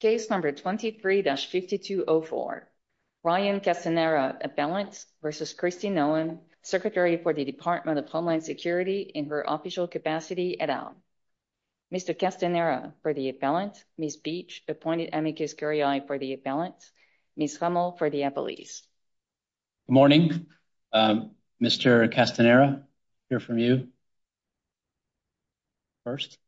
Case number 23-5204. Ryan Castanera, appellant, versus Kristi Noem, secretary for the Department of Homeland Security in her official capacity et al. Mr. Castanera for the appellant, Ms. Beach, appointed amicus curiae for the appellant, Ms. Hummel for the appellees. Good morning. Mr. Castanera, hear from you first.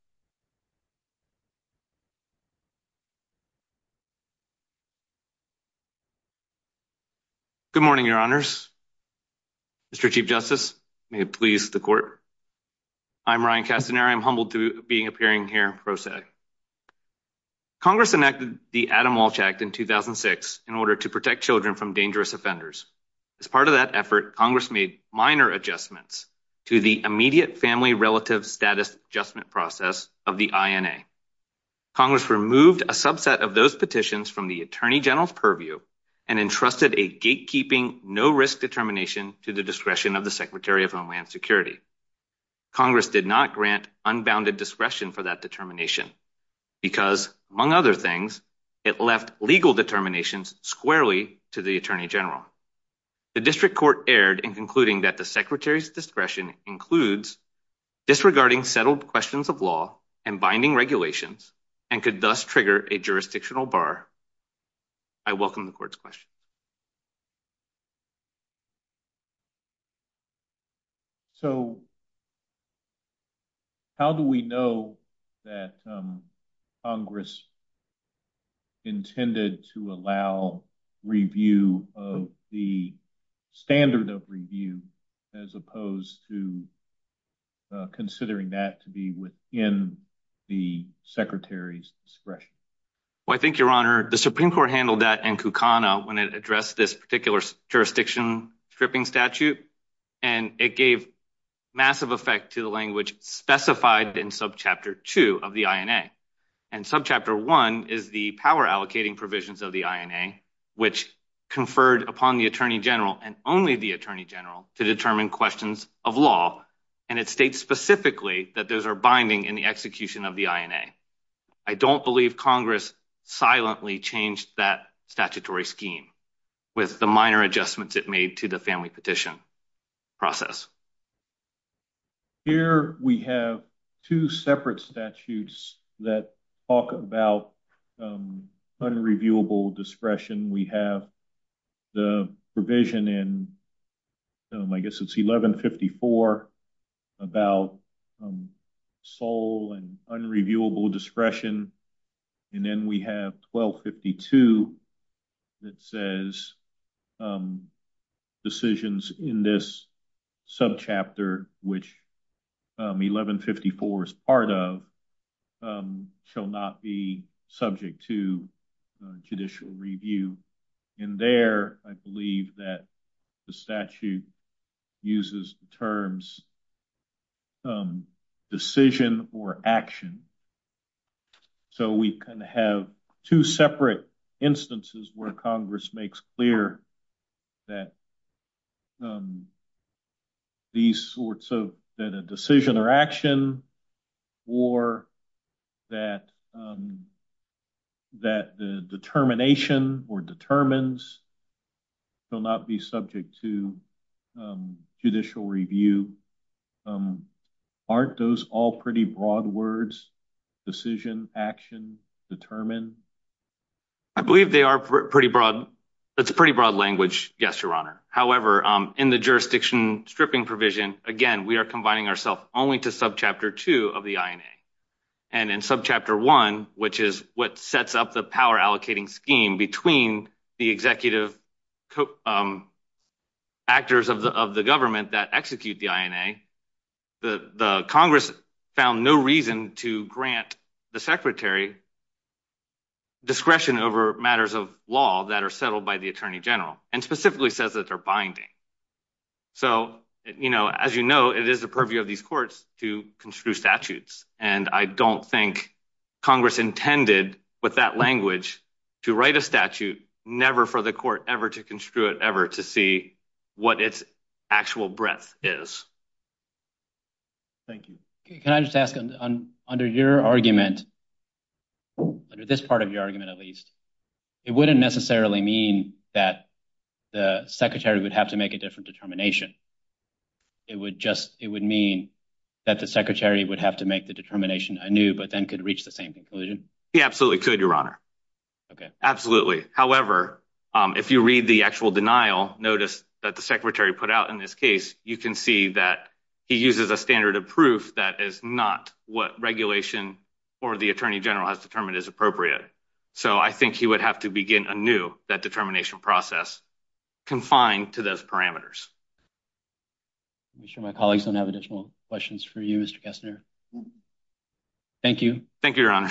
Good morning, your honors. Mr. Chief Justice, may it please the court. I'm Ryan Castanera. I'm humbled to be appearing here in pro se. Congress enacted the Adam Walsh Act in 2006 in order to protect children from dangerous offenders. As part of that effort, Congress made minor adjustments to the immediate family relative status adjustment process of the INA. Congress removed a subset of those petitions from the Attorney General's purview and entrusted a gatekeeping no-risk determination to the discretion of the Secretary of Homeland Security. Congress did not grant unbounded discretion for that determination because, among other things, it left legal determinations squarely to the Attorney General. The district court erred in concluding that the discretion includes disregarding settled questions of law and binding regulations and could thus trigger a jurisdictional bar. I welcome the court's question. So, how do we know that Congress intended to allow review of the standard of review as opposed to considering that to be within the Secretary's discretion? Well, I think, your honor, the Supreme Court handled that in Kukana when it addressed this particular jurisdiction stripping statute, and it gave massive effect to the language specified in Subchapter 2 of the INA. And Subchapter 1 is the power allocating provisions of the INA, which conferred upon the Attorney General and only the Attorney General to determine questions of law, and it states specifically that those are binding in the execution of the INA. I don't believe Congress silently changed that statutory scheme with the minor adjustments it made to the family petition process. Here we have two separate statutes that talk about unreviewable discretion. We have the provision in, I guess it's 1154, about sole and unreviewable discretion. And then we have 1252 that says that decisions in this subchapter, which 1154 is part of, shall not be subject to judicial review. In there, I believe that the statute uses the terms of decision or action. So we can have two separate instances where Congress makes clear that these sorts of, that a decision or action or that the determination or determines shall not be subject to judicial review. Aren't those all pretty broad words? Decision, action, determine? I believe they are pretty broad. That's pretty broad language. Yes, Your Honor. However, in the jurisdiction stripping provision, again, we are combining ourself only to Subchapter 2 of the INA. And in Subchapter 1, which is what sets up the power allocating scheme between the executive actors of the government that execute the INA, the Congress found no reason to grant the Secretary discretion over matters of law that are settled by the Attorney General, and specifically says that they're binding. So, you know, as you know, it is the purview of these courts to construe statutes. And I don't think Congress intended with that language to write a statute never for the court ever to construe it ever to see what its actual breadth is. Thank you. Can I just ask under your argument, under this part of your argument, at least, it wouldn't necessarily mean that the Secretary would have to make a different determination. It would just, it would mean that the Secretary would have to make the determination anew, but then could reach the same conclusion? He absolutely could, Your Honor. Okay. Absolutely. However, if you read the actual denial notice that the Secretary put out in this case, you can see that he uses a standard of proof that is not what regulation or the Attorney General has determined is appropriate. So I think he would have to begin anew that determination process confined to those parameters. I'm sure my colleagues don't have additional questions for you, Mr. Kessner. Thank you. Thank you, Your Honor.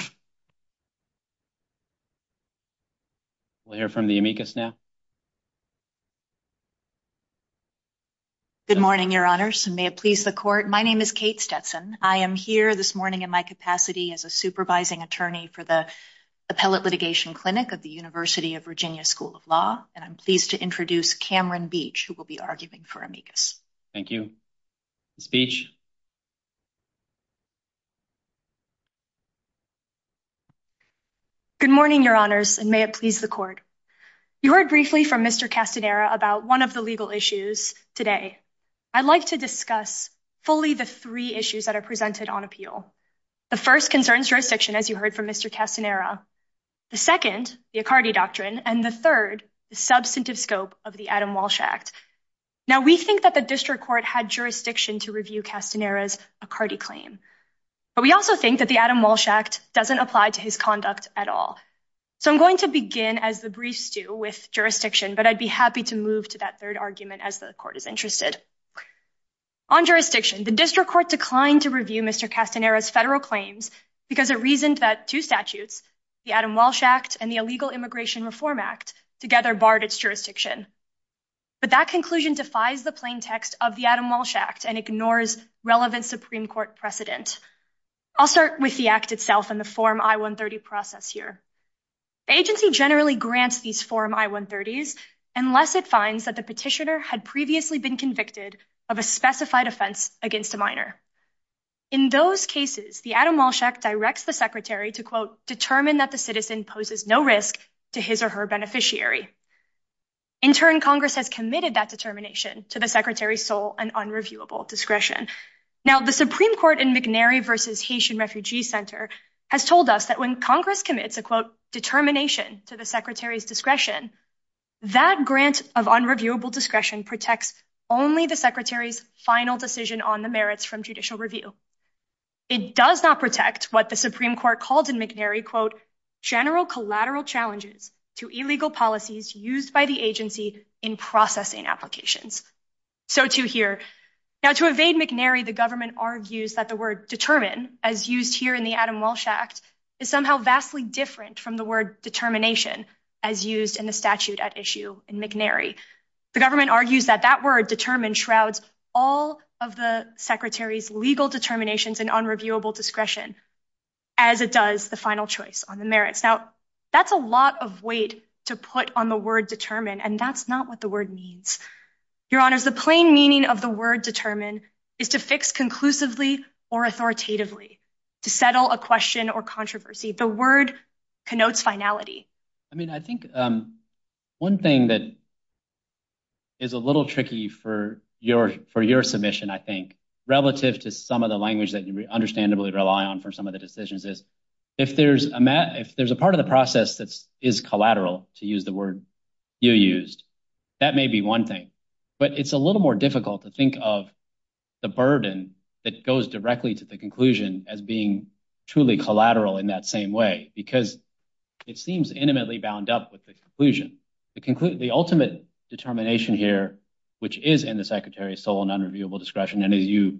We'll hear from the amicus now. Good morning, Your Honors, and may it please the court. My name is Kate Stetson. I am here this morning in my capacity as a supervising attorney for the Appellate Litigation Clinic of the University of Virginia School of Law. And I'm pleased to introduce Cameron Beach, who will be arguing for amicus. Thank you. The speech. Good morning, Your Honors, and may it please the court. You heard briefly from Mr. Castanera about one of the legal issues today. I'd like to discuss fully the three issues that are presented on appeal. The first concerns jurisdiction, as you heard from Mr. Castanera. The second, the Accardi Doctrine, and the third, the substantive scope of the Adam Walsh Act. Now, we think that the district court had jurisdiction to review Castanera's Accardi claim. But we also think that the Adam Walsh Act doesn't apply to his conduct at all. So I'm going to begin as the brief stew with jurisdiction, but I'd be happy to move to that third argument as the court is interested. On jurisdiction, the district court declined to review Mr. Castanera's federal claims because it reasoned that two statutes, the Adam Walsh Act and the Illegal Immigration Reform Act, together barred its jurisdiction. But that conclusion defies the plain text of the Adam Walsh Act and ignores relevant Supreme Court precedent. I'll start with the act itself and the Form I-130 process here. The agency generally grants these Form I-130s unless it finds that the petitioner had previously been convicted of a specified offense against a minor. In those cases, the Adam Walsh Act directs the secretary to, quote, determine that the citizen poses no risk to his or her beneficiary. In turn, Congress has committed that determination to the secretary's sole and unreviewable discretion. Now, the Supreme Court in McNary v. Haitian Refugee Center has told us that when Congress commits a, quote, determination to the secretary's discretion, that grant of unreviewable discretion protects only the secretary's final decision on the merits from judicial review. It does not protect what the Supreme Court called in McNary, quote, general collateral challenges to illegal policies used by the agency in processing applications. So too here. Now, to evade McNary, the government argues that the word determine, as used here in the Adam Walsh Act, is somehow vastly different from the word determination, as used in the statute at issue in McNary. The government argues that that word, determine, shrouds all of the secretary's legal determinations and unreviewable discretion. As it does the final choice on the merits. Now, that's a lot of weight to put on the word determine, and that's not what the word means. Your honors, the plain meaning of the word determine is to fix conclusively or authoritatively, to settle a question or controversy. The word connotes finality. I mean, I think one thing that is a little tricky for your submission, I think, relative to some of the language that you understandably rely on for some of the decisions is, if there's a part of the process that is collateral, to use the word you used, that may be one thing. But it's a little more difficult to think of the burden that goes directly to the conclusion as being truly collateral in that same way, because it seems intimately bound up with the conclusion. The ultimate determination here, which is in the secretary's sole and unreviewable discretion, and as you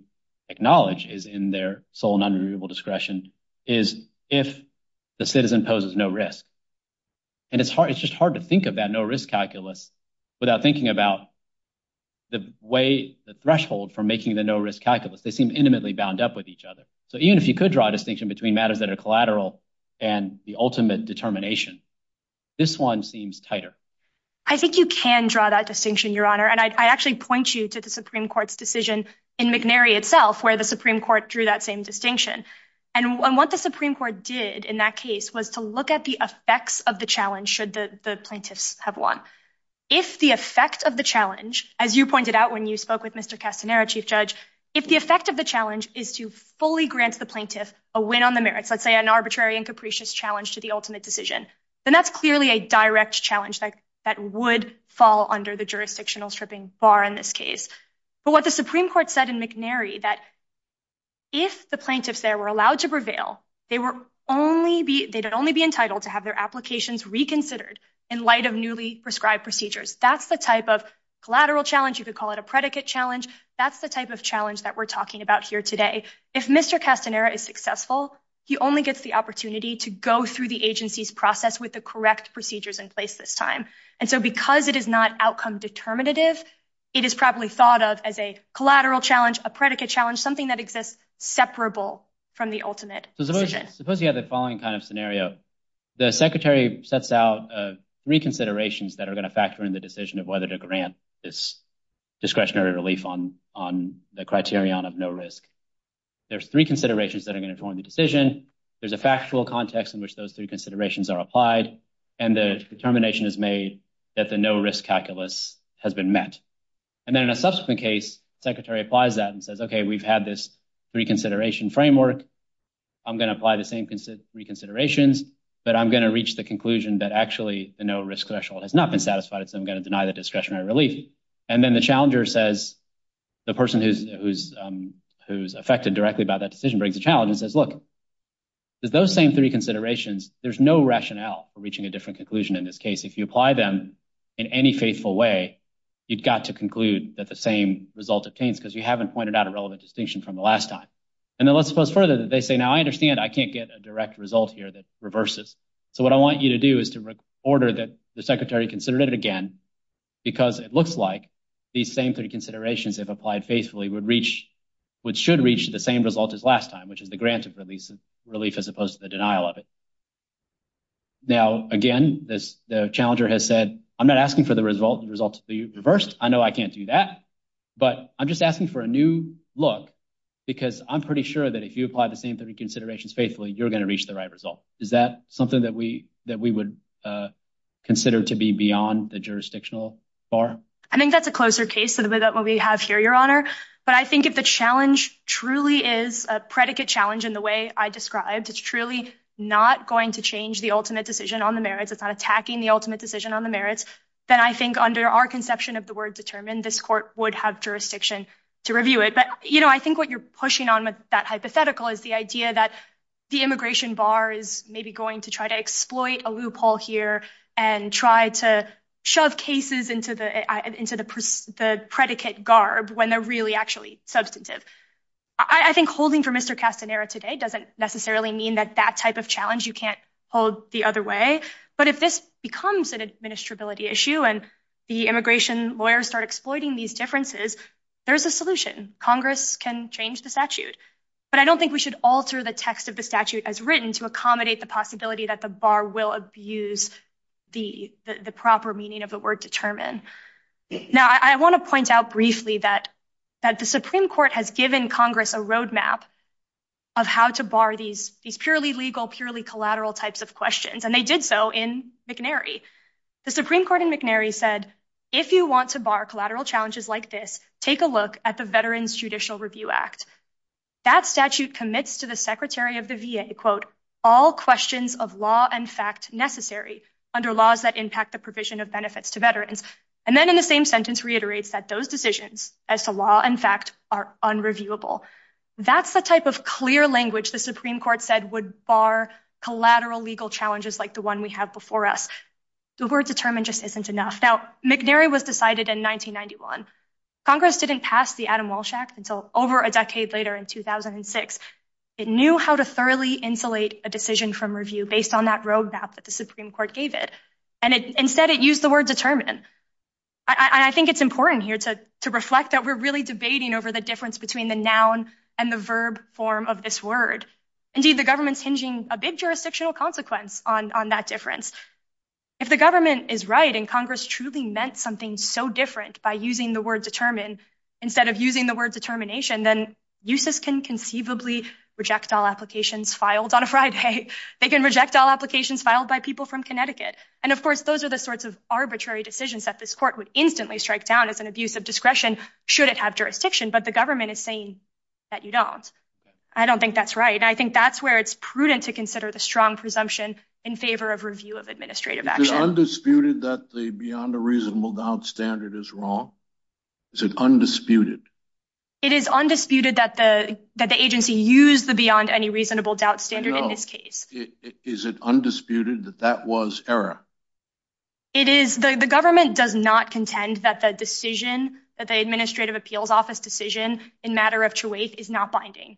acknowledge, is in their sole and is if the citizen poses no risk. And it's just hard to think of that no risk calculus without thinking about the way, the threshold for making the no risk calculus. They seem intimately bound up with each other. So even if you could draw a distinction between matters that are collateral and the ultimate determination, this one seems tighter. I think you can draw that distinction, your honor. And I actually point you to the Supreme Court's decision in McNary itself, where the Supreme Court drew that same distinction. And what the Supreme Court did in that case was to look at the effects of the challenge should the plaintiffs have won. If the effect of the challenge, as you pointed out when you spoke with Mr. Castanero, Chief Judge, if the effect of the challenge is to fully grant the plaintiff a win on the merits, let's say an arbitrary and capricious challenge to the ultimate decision, then that's clearly a direct challenge that would fall under the jurisdictional stripping bar in this case. But what the Supreme Court said in McNary that if the plaintiffs there were allowed to prevail, they'd only be entitled to have their applications reconsidered in light of newly prescribed procedures. That's the type of collateral challenge. You could call it a predicate challenge. That's the type of challenge that we're talking about here today. If Mr. Castanero is successful, he only gets the opportunity to go through the agency's process with the correct procedures in place this time. And so because it is not outcome determinative, it is probably thought of as a collateral challenge, a predicate challenge, something that exists separable from the ultimate decision. Suppose you have the following kind of scenario. The Secretary sets out three considerations that are going to factor in the decision of whether to grant this discretionary relief on the criterion of no risk. There's three considerations that are going to inform the decision. There's a factual context in which those three considerations are applied, and the determination is made that the no risk calculus has been met. And then in a subsequent case, the Secretary applies that and says, okay, we've had this three consideration framework. I'm going to apply the same three considerations, but I'm going to reach the conclusion that actually the no risk threshold has not been satisfied, so I'm going to deny the discretionary relief. And then the challenger says, the person who's affected directly by that challenge says, look, there's those same three considerations. There's no rationale for reaching a different conclusion in this case. If you apply them in any faithful way, you've got to conclude that the same result obtains because you haven't pointed out a relevant distinction from the last time. And then let's suppose further that they say, now I understand I can't get a direct result here that reverses. So what I want you to do is to order that the Secretary considered it again, because it looks like these same three considerations, if applied faithfully, which should reach the same result as last time, which is the grant of relief as opposed to the denial of it. Now, again, the challenger has said, I'm not asking for the result to be reversed. I know I can't do that, but I'm just asking for a new look, because I'm pretty sure that if you apply the same three considerations faithfully, you're going to reach the right result. Is that something that we would consider to be beyond the jurisdictional bar? I think that's a closer case to the way that we have here, Your Honor. But I think if the challenge truly is a predicate challenge in the way I described, it's truly not going to change the ultimate decision on the merits. It's not attacking the ultimate decision on the merits. Then I think under our conception of the word determined, this court would have jurisdiction to review it. But I think what you're pushing on with that hypothetical is the idea that the immigration bar is maybe going to try to exploit a loophole here and try to shove cases into the predicate garb when they're really actually substantive. I think holding for Mr. Castanera today doesn't necessarily mean that that type of challenge you can't hold the other way. But if this becomes an administrability issue and the immigration lawyers start exploiting these differences, there's a solution. Congress can change the statute. But I don't think we should alter the text of the statute as written to accommodate the possibility that the bar will abuse the proper meaning of the word determine. Now, I want to point out briefly that the Supreme Court has given Congress a roadmap of how to bar these purely legal, purely collateral types of questions, and they did so in McNary. The Supreme Court in McNary said, if you want to bar collateral challenges like this, take a look at the Veterans Judicial Review Act. That statute commits to the under laws that impact the provision of benefits to veterans. And then in the same sentence reiterates that those decisions as to law and fact are unreviewable. That's the type of clear language the Supreme Court said would bar collateral legal challenges like the one we have before us. The word determine just isn't enough. Now, McNary was decided in 1991. Congress didn't pass the Adam Walsh Act until over a decade later in 2006. It knew how to thoroughly insulate a decision from review based on that roadmap that the Supreme Court gave it. And instead, it used the word determine. I think it's important here to reflect that we're really debating over the difference between the noun and the verb form of this word. Indeed, the government's hinging a big jurisdictional consequence on that difference. If the government is right and Congress truly meant something so different by using the word determine instead of using the word determination, then uses can conceivably reject all applications filed on a Friday. They can reject all applications filed by people from Connecticut. And of course, those are the sorts of arbitrary decisions that this court would instantly strike down as an abuse of discretion should it have jurisdiction. But the government is saying that you don't. I don't think that's right. I think that's where it's prudent to consider the strong presumption in favor of review of administrative action. Undisputed that the beyond a reasonable doubt standard is wrong. Is it undisputed? It is undisputed that the agency used the beyond any reasonable doubt standard in this case. Is it undisputed that that was error? It is. The government does not contend that the decision, that the administrative appeals office decision in matter of truth is not binding.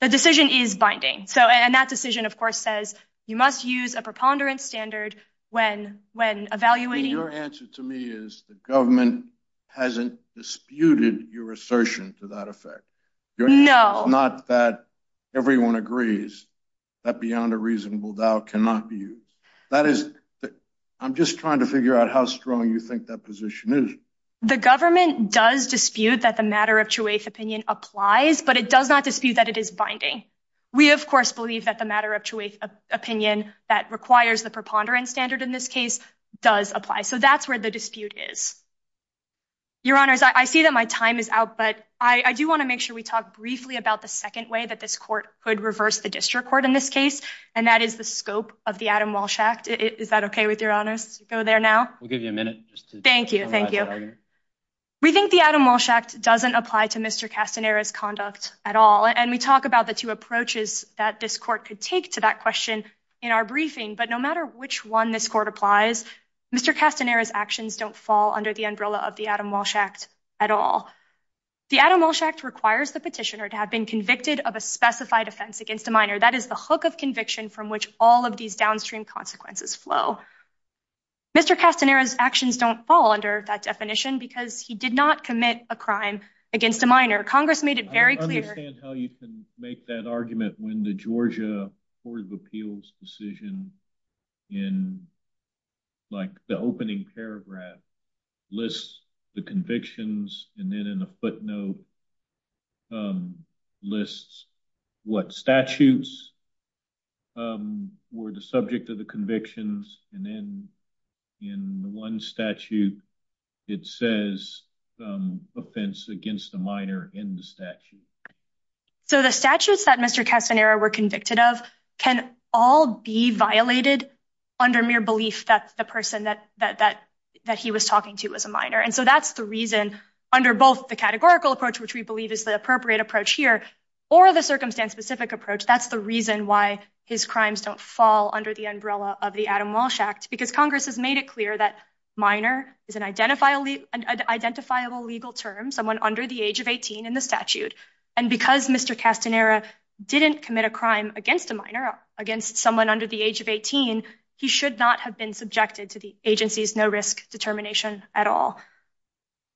The decision is binding. So and that decision, of course, says you must use a preponderance standard when when evaluating your answer to me is the government hasn't disputed your assertion to that effect. No, not that everyone agrees that beyond a reasonable doubt cannot be used. That is, I'm just trying to figure out how strong you think that position is. The government does dispute that the matter of truth opinion applies, but it does not dispute that it is binding. We, of course, believe that the matter of truth opinion that requires the ponderance standard in this case does apply. So that's where the dispute is. Your honors, I see that my time is out, but I do want to make sure we talk briefly about the second way that this court could reverse the district court in this case, and that is the scope of the Adam Walsh Act. Is that OK with your honors? Go there now. We'll give you a minute. Thank you. Thank you. We think the Adam Walsh Act doesn't apply to Mr. Castanera's conduct at all. And we talk about the two approaches that this court could take to that question in our briefing. But no matter which one this court applies, Mr. Castanera's actions don't fall under the umbrella of the Adam Walsh Act at all. The Adam Walsh Act requires the petitioner to have been convicted of a specified offense against a minor. That is the hook of conviction from which all of these downstream consequences flow. Mr. Castanera's actions don't fall under that definition because he did not commit a crime against a minor. Congress made it very clear. I don't understand how you can make that argument when the Georgia Court of Appeals decision in, like, the opening paragraph lists the convictions, and then in a footnote lists what statutes were the subject of the convictions, and then in one statute it says offense against a minor in the statute. So the statutes that Mr. Castanera were convicted of can all be violated under mere belief that the person that he was talking to was a minor. And so that's the reason, under both the categorical approach, which we believe is the appropriate approach here, or the circumstance-specific approach, that's the reason why his crimes don't fall under the umbrella of the Adam Walsh Act, because Congress has made it clear that minor is an identifiable legal term, someone under the age of 18 in the statute, and because Mr. Castanera didn't commit a crime against a minor, against someone under the age of 18, he should not have been subjected to the agency's no-risk determination at all.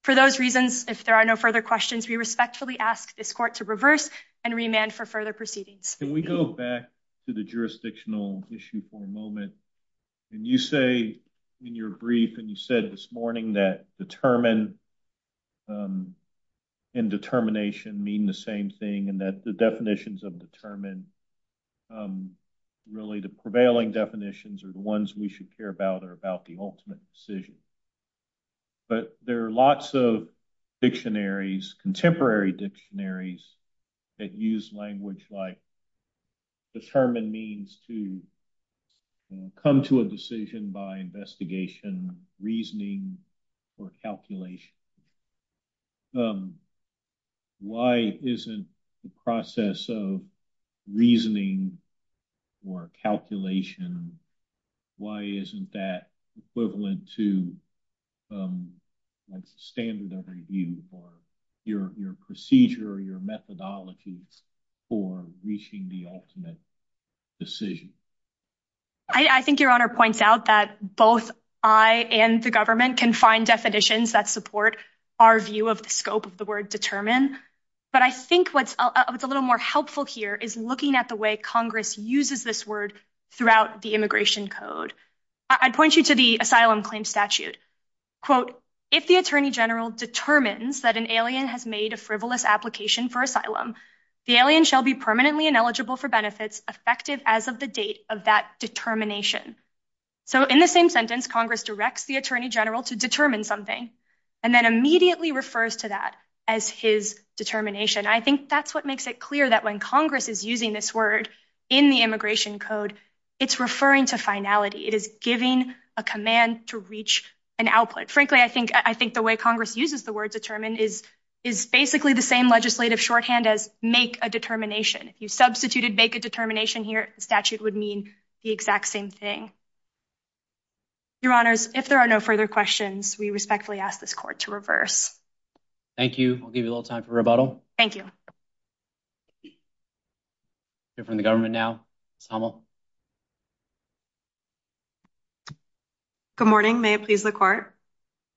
For those reasons, if there are no further questions, we respectfully ask this court to reverse and remand for further proceedings. Can we go back to the jurisdictional issue for a moment? And you say in your brief, and you said this morning, that determine and determination mean the same thing, and that the definitions of determine, really the prevailing definitions are the ones we should care about, are about the ultimate decision. But there are lots of dictionaries, contemporary dictionaries, that use language like determine means to come to a decision by investigation, reasoning, or calculation. Why isn't the process of reasoning or calculation, why isn't that equivalent to standard of review, or your procedure, your methodologies for reaching the ultimate decision? I think your honor points out that both I and the government can find definitions that support our view of the scope of the word determine, but I think what's a little more helpful here is looking at the way Congress uses this word throughout the immigration code. I'd point you to the asylum claim statute. Quote, if the attorney general determines that an alien has made a frivolous application for asylum, the alien shall be permanently ineligible for benefits effective as of the date of that determination. So in the same sentence, Congress directs the attorney general to determine something, and then immediately refers to that as his determination. I think that's what makes it clear that when Congress is using this word in the immigration code, it's referring to finality. It is giving a command to reach an output. Frankly, I think the way Congress uses the word determine is basically the same legislative shorthand as make a determination. If you substituted make a determination here, the statute would mean the exact same thing. Your honors, if there are no further questions, we respectfully ask this court to reverse. Thank you. I'll give you a little time for rebuttal. Thank you. We'll hear from the government now. Ms. Hummel. Good morning. May it please the court.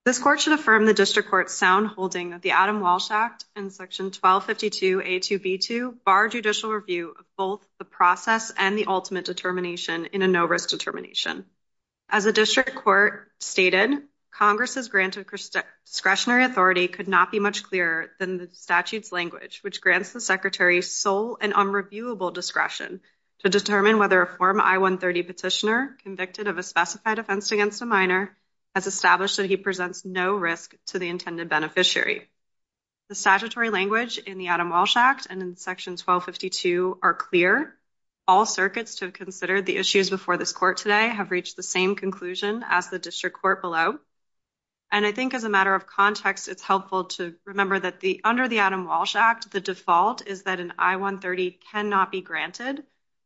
This court should affirm the district court's sound holding of the Adam Walsh Act and section 1252 A2B2 bar judicial review of both the process and the ultimate determination in a no risk determination. As a district court stated, Congress's granted discretionary authority could not be much clearer than the statute's language, which grants the secretary sole and unreviewable discretion to determine whether a form I-130 petitioner convicted of a specified offense against a minor has established that he presents no risk to the intended beneficiary. The statutory language in the Adam Walsh Act and in section 1252 are clear. All circuits to have considered the issues before this court today have reached the same conclusion as the district court below. And I think as a matter of context, it's helpful to remember that under the Adam Walsh Act, the default is that an I-130 cannot be granted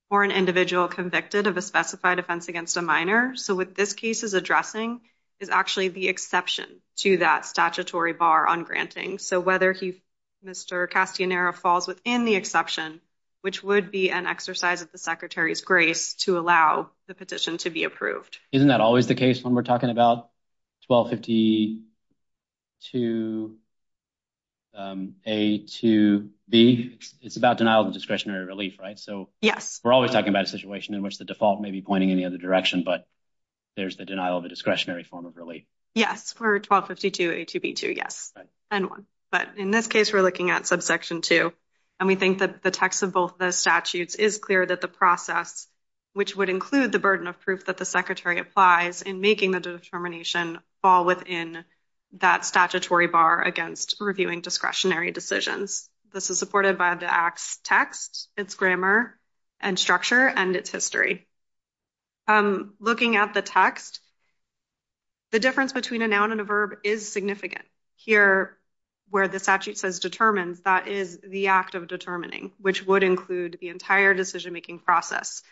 for an individual convicted of a specified offense against a minor. So what this case is addressing is actually the exception to that statutory bar on granting. So whether he, Mr. Castanero falls within the exception, which would be an exercise of the secretary's grace to allow the petition to be approved. Isn't that always the case when we're talking about 1252 A2B? It's about denial of discretionary relief, right? So we're always talking about a situation in which the default may be pointing in the other direction, but there's the denial of a discretionary form of relief. Yes, for 1252 A2B2, yes. But in this case, we're looking at subsection two. And we think that the text of both the statutes is clear that the process, which would include the burden of proof that the secretary applies in making the determination fall within that statutory bar against reviewing discretionary decisions. This is supported by the act's text, its grammar and structure, and its history. Looking at the text, the difference between a noun and a verb is significant. Here, where the statute says determines, that is the act of determining, which would include the entire decision-making process.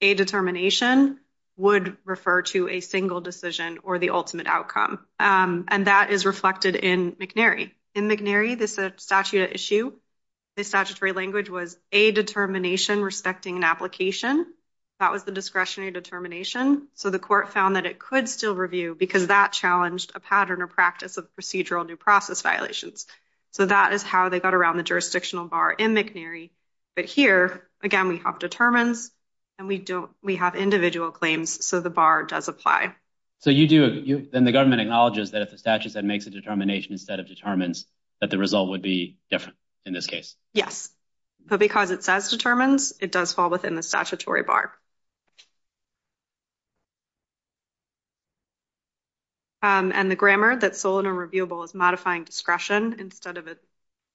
A determination would refer to a single decision or the ultimate outcome. And that is reflected in McNary. In McNary, the statute at issue, the statutory language was a determination respecting an application. That was the discretionary determination. So the court found that it could still review because that challenged a pattern or practice of procedural new process violations. So that is how they got around the jurisdictional bar in McNary. But here, again, we have determines and we have individual claims, so the bar does apply. So you do, then the government acknowledges that if the statute that makes a determination instead of determines, that the result would be different in this case? Yes. But because it says determines, it does fall within the statutory bar. And the grammar that's sole and irreviewable is modifying discretion instead of a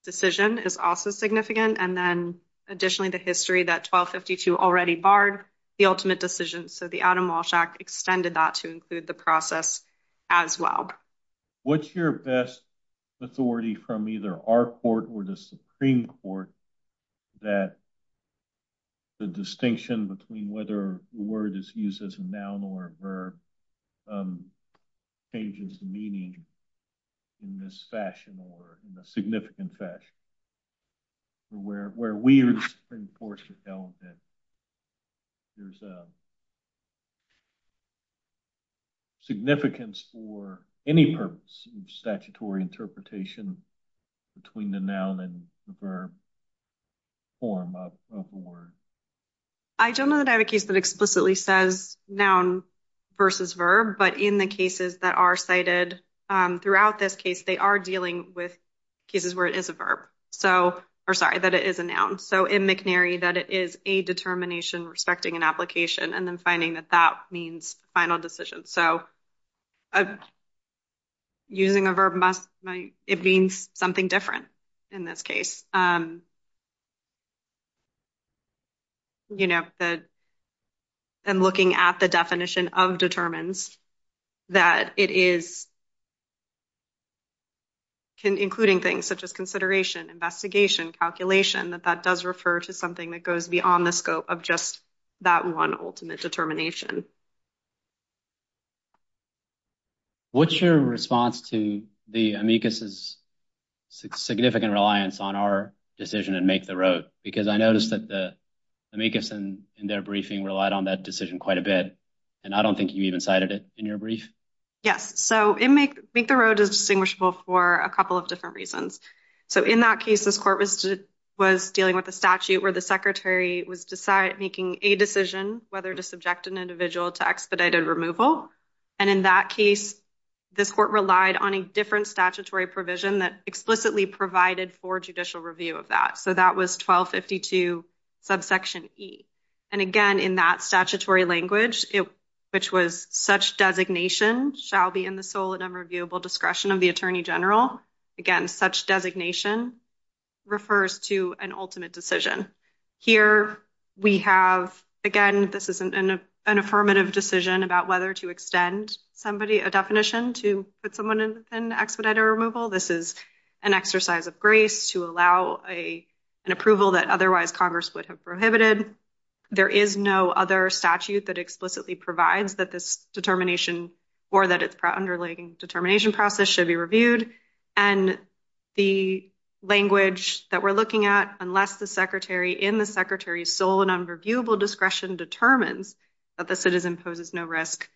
decision is also significant. And then additionally, the history that 1252 already barred the ultimate decision. So the Adam Walsh Act extended that to include the process as well. What's your best authority from either our court or the Supreme Court that the distinction between whether the word is used as a noun or a verb changes the meaning in this fashion or in a way? Significance for any purpose of statutory interpretation between the noun and the verb form of the word? I don't know that I have a case that explicitly says noun versus verb, but in the cases that are cited throughout this case, they are dealing with cases where it is a verb. So, or sorry, that it is a noun. So in McNary, that it is a determination respecting an application and then finding that that means final decision. So using a verb, it means something different in this case. You know, and looking at the definition of determines, that it is including things such as consideration, investigation, calculation, that that does refer to something that goes beyond the scope of just that one ultimate determination. What's your response to the amicus' significant reliance on our decision in Make the Road? Because I noticed that the amicus in their briefing relied on that decision quite a bit, and I don't think you even cited it in your brief. Yes, so Make the Road is distinguishable for a couple of different reasons. So in that case, this court was dealing with a statute where the secretary was making a decision whether to subject an individual to expedited removal. And in that case, this court relied on a different statutory provision that explicitly provided for judicial review of that. So that was 1252 subsection E. And again, in that statutory language, which was such designation shall be in the sole and unreviewable discretion of the again, such designation refers to an ultimate decision. Here we have, again, this isn't an affirmative decision about whether to extend somebody a definition to put someone in expedited removal. This is an exercise of grace to allow an approval that otherwise Congress would have prohibited. There is no other statute that explicitly provides that this determination or that its underlying determination process should be reviewed. And the language that we're looking at, unless the secretary in the secretary's sole and unreviewable discretion determines that the citizen poses no risk,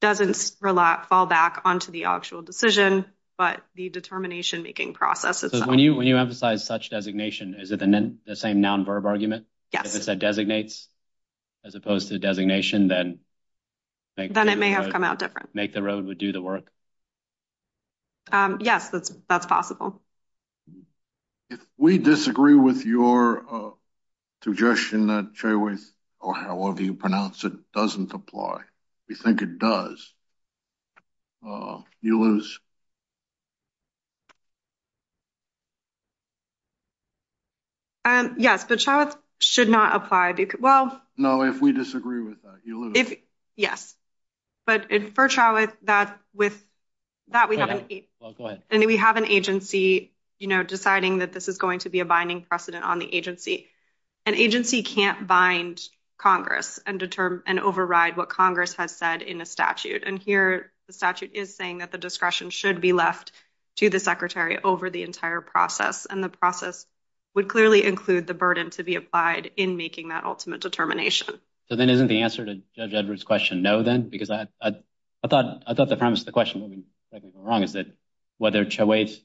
doesn't fall back onto the actual decision, but the determination making process. So when you emphasize such designation, is it the same noun verb argument? Yes. If it said designates as opposed to designation, then then it may have come out different. Make the road would do the work. Yes, that's that's possible. If we disagree with your suggestion that Chayworth or however you pronounce it doesn't apply, we think it does, you lose. Yes, but Chayworth should not apply. Well, no, if we disagree with that, you lose. Yes, but it for Chayworth that with that we haven't. And we have an agency, you know, deciding that this is going to be a binding precedent on the agency. An agency can't bind Congress and determine and override what Congress has said in a statute. And here the statute is saying that the discretion should be left to the secretary over the entire process. And the process would clearly include the burden to be applied in making that ultimate determination. So then isn't the answer to Judge Edwards question? No, then, because I thought I thought the premise of the question would be wrong. Is that whether Chayworth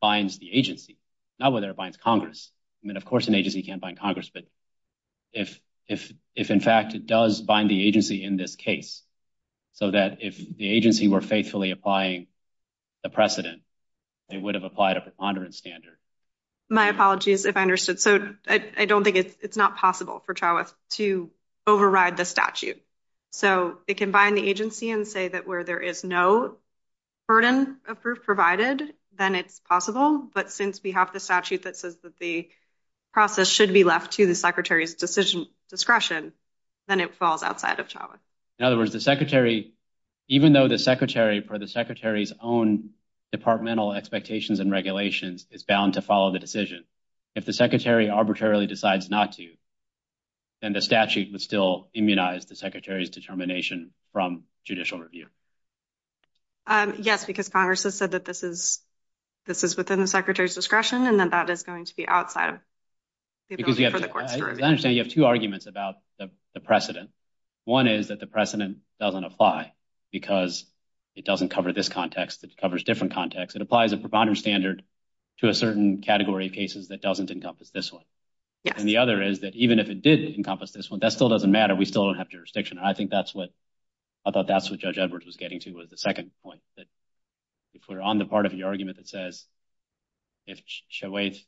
binds the agency, not whether it binds Congress? I mean, of course, an agency can't bind Congress. But if if if, in fact, it does bind the agency in this case so that if the agency were faithfully applying the precedent, they would have applied a preponderance standard. My apologies if I understood. So I don't think it's not possible for Chayworth to override the statute. So it can bind the agency and say that where there is no burden of proof provided, then it's possible. But since we have the statute that says that the process should be left to the secretary's decision discretion, then it falls outside of Chayworth. In other words, the secretary, even though the secretary for the secretary's own departmental expectations and regulations is bound to follow the decision, if the secretary arbitrarily decides not to, then the statute would still immunize the secretary's determination from judicial review. Yes, because Congress has said that this is this is within the secretary's discretion, and then that is going to be outside of the court. I understand you have two arguments about the precedent. One is that the precedent doesn't apply because it doesn't cover this context, it covers different contexts. It applies a preponderance standard to a certain category of cases that doesn't encompass this one. And the other is that even if it did encompass this one, that still doesn't matter. We still don't have jurisdiction. And I think that's what I thought that's what Judge Edwards was getting to was the second point, that if we're on the part of the argument that says if Chayworth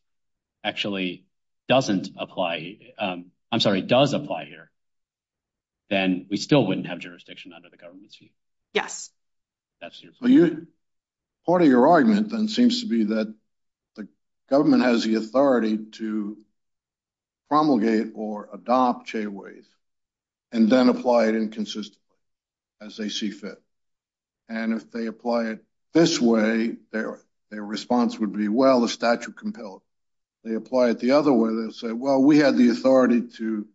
actually doesn't apply, I'm sorry, does apply here, then we still wouldn't have jurisdiction under the government's view. Yes. Part of your argument then seems to be that the government has the authority to promulgate or adopt Chayworth and then apply it inconsistently as they see fit. And if they apply it this way, their response would be, well, the statute compels. They apply it the other way, well, we have the authority to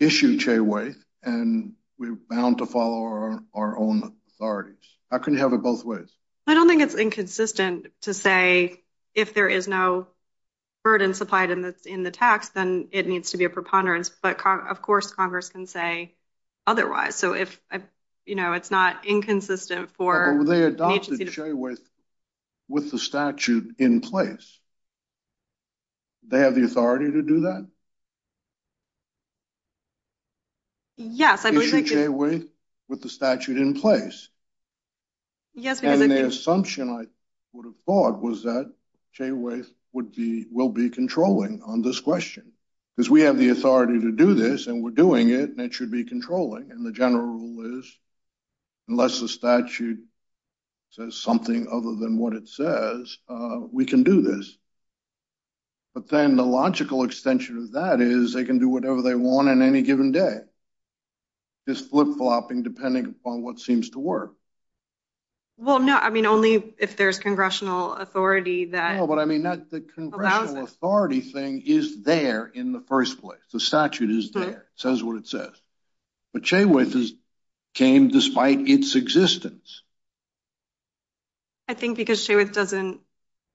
issue Chayworth and we're bound to follow our own authorities. How can you have it both ways? I don't think it's inconsistent to say if there is no burden supplied in the tax, then it needs to be a preponderance. But of course, Congress can say otherwise. So if it's not inconsistent for- They adopted Chayworth with the statute in place. They have the authority to do that? Yes, I believe they do. Issue Chayworth with the statute in place? Yes, because- And the assumption I would have thought was that Chayworth will be controlling on this question, because we have the authority to do this and we're doing it and it should be controlling. And the rule is, unless the statute says something other than what it says, we can do this. But then the logical extension of that is they can do whatever they want on any given day. It's flip-flopping depending upon what seems to work. Well, no, I mean, only if there's congressional authority that- No, but I mean, the congressional authority thing is there in the first place. The statute is there. It says what it says. But Chayworth came despite its existence. I think because Chayworth doesn't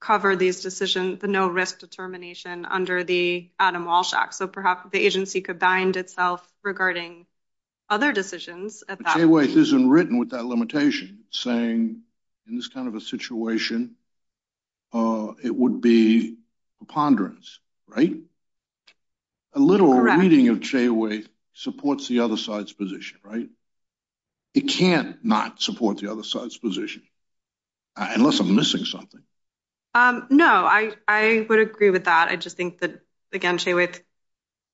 cover these decisions, the no risk determination under the Adam Walsh Act. So perhaps the agency could bind itself regarding other decisions at that- But Chayworth isn't written with that limitation saying in this kind of a situation, it would be preponderance, right? A literal reading of Chayworth supports the other side's position, right? It can't not support the other side's position, unless I'm missing something. No, I would agree with that. I just think that, again, Chayworth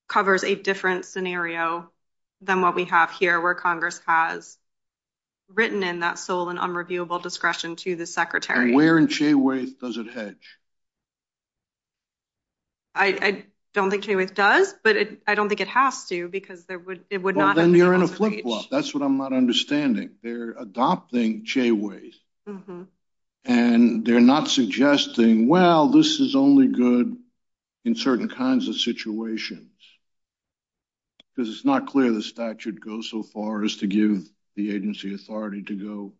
covers a different scenario than what we have here where Congress has written in that sole and unreviewable discretion to the secretary. And where in Chayworth does it hedge? I don't think Chayworth does, but I don't think it has to because it would not- Well, then you're in a flip-flop. That's what I'm not understanding. They're adopting Chayworth, and they're not suggesting, well, this is only good in certain kinds of situations. Because it's not clear the statute goes so far as to give the agency authority to go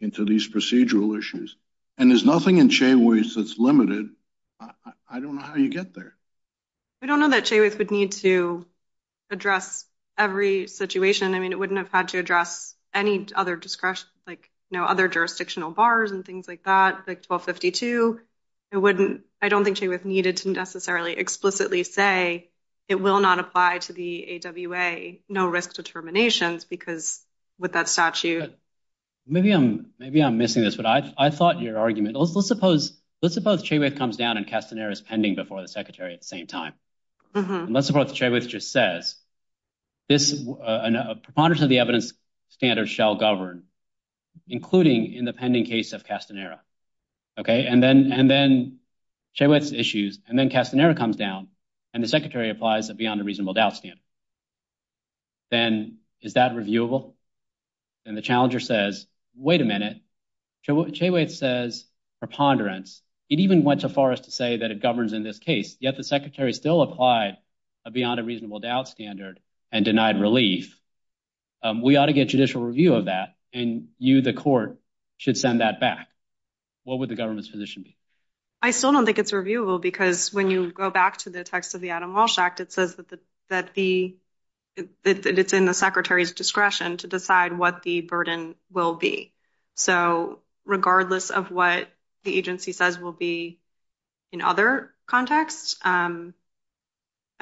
into these procedural issues. And there's nothing in Chayworth that's limited. I don't know how you get there. I don't know that Chayworth would need to address every situation. I mean, it wouldn't have had to address any other jurisdiction, like other jurisdictional bars and things like that, like 1252. I don't think Chayworth needed to necessarily explicitly say it will not apply to the AWA, no risk determinations, because with that statute- Maybe I'm missing this, but I thought your argument, let's suppose Chayworth comes down and Castanera's pending before the secretary at the same time. And let's suppose Chayworth just says, a preponderance of the evidence standards shall govern, including in the pending case of Castanera. And then Chayworth's issues, and then Castanera comes down, and the secretary applies a beyond a reasonable doubt standard. Then is that reviewable? And the challenger says, wait a minute, Chayworth says preponderance. It even went so far as to say that it governs in this case, yet the secretary still applied a beyond a reasonable doubt standard and denied relief. We ought to get judicial review of that. And you, the court, should send that back. What would the government's position be? I still don't think it's reviewable because when you go back to the text of the Adam Walsh Act, it says that it's in the secretary's discretion to decide what the burden will be. So regardless of what the agency says will be in other contexts, I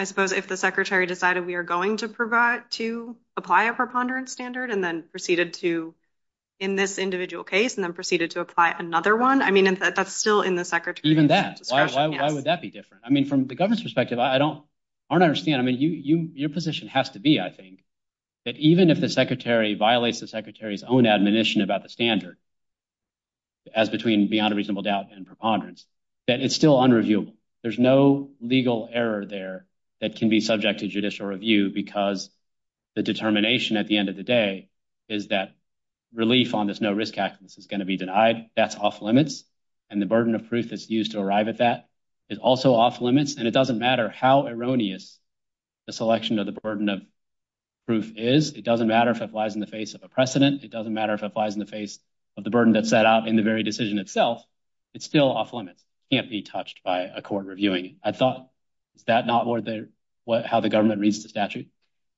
suppose if the secretary decided we are going to apply a preponderance standard and then proceeded to, in this individual case, and then proceeded to apply another one, that's still in the secretary's discretion. Even that. Why would that be different? I mean, from the government's perspective, I don't understand. I mean, your position has to be, I think, that even if the secretary violates the secretary's own admonition about the standard as between beyond a reasonable doubt and preponderance, that it's still unreviewable. There's no legal error there that can be subject to judicial review because the determination at the end of the day is that relief on this no risk act is going to be denied. That's off limits. And the burden of proof that's used to arrive at that is also off limits. And it doesn't matter how erroneous the selection of the burden of proof is. It doesn't matter if it applies in the face of a precedent. It doesn't matter if it applies in the face of the burden that's set out in the very decision itself. It's still off limits. It can't be touched by a court reviewing it. I thought, is that not how the government reads the statute?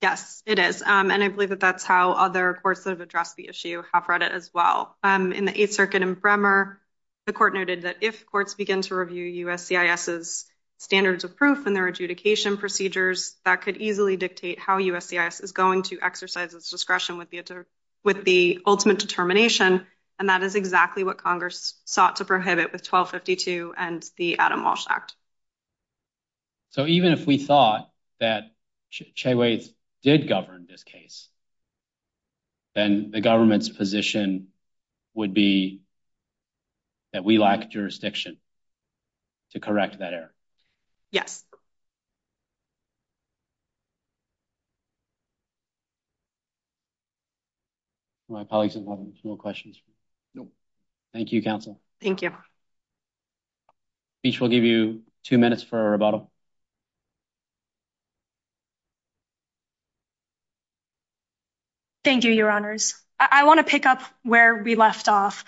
Yes, it is. And I believe that that's how other courts that have addressed the issue have read it as well. In the Eighth Circuit in Bremer, the court noted that if courts begin to review USCIS's standards of proof and their adjudication procedures, that could easily dictate how USCIS is going to exercise its discretion with the ultimate determination. And that is exactly what Congress sought to prohibit with 1252 and the Adam Walsh Act. So even if we thought that Chagways did govern this case, then the government's position would be that we lack jurisdiction to correct that error. Yes. My colleagues have no questions. No. Thank you, counsel. Thank you. Speech will give you two minutes for a rebuttal. Thank you, your honors. I want to pick up where we left off.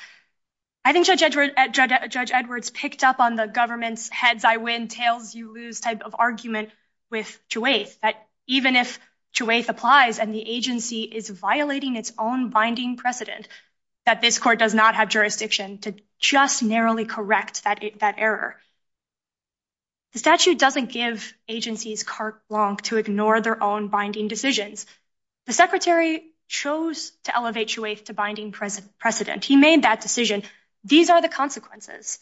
I think Judge Edwards picked up on the government's heads I win, tails you lose type of argument with Chagways, that even if Chagways applies and the agency is violating its own binding precedent, that this court does not have jurisdiction to just narrowly correct that error. The statute doesn't give agencies carte blanche to ignore their own binding decisions. The secretary chose to elevate Chagways to binding precedent. He made that decision. These are the consequences.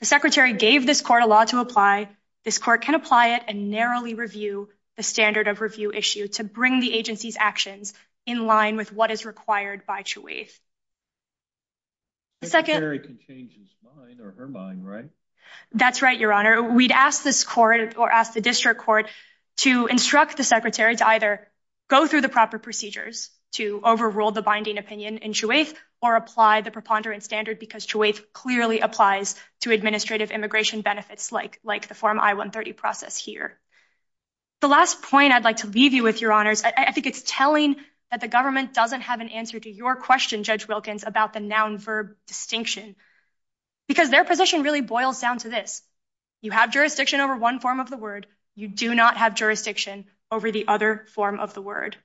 The secretary gave this court a lot to apply. This court can apply it and narrowly review the standard of review issue to bring the agency's actions in line with what is required by Chagways. The secretary can change his mind or her mind, right? That's right, your honor. We'd ask this court or ask the district court to instruct the secretary to either go through the proper procedures to overrule the binding opinion in Chagways or apply the preponderance standard, because Chagways clearly applies to administrative immigration benefits like the form I-130 process here. The last point I'd like to leave you with, your honors, I think it's telling that the distinction, because their position really boils down to this. You have jurisdiction over one form of the word. You do not have jurisdiction over the other form of the word.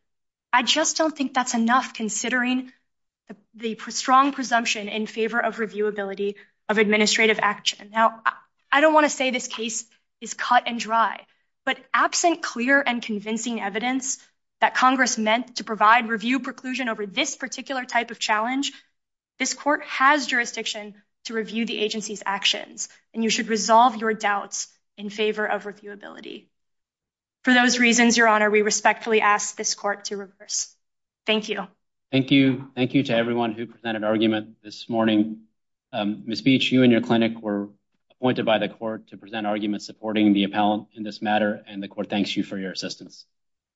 I just don't think that's enough considering the strong presumption in favor of reviewability of administrative action. Now, I don't want to say this case is cut and dry, but absent clear and convincing evidence that Congress meant to provide review preclusion over this particular type of challenge, this court has jurisdiction to review the agency's actions, and you should resolve your doubts in favor of reviewability. For those reasons, your honor, we respectfully ask this court to reverse. Thank you. Thank you. Thank you to everyone who presented argument this morning. Ms. Beach, you and your clinic were appointed by the court to present arguments supporting the appellant in this matter, and the court thanks you for your assistance.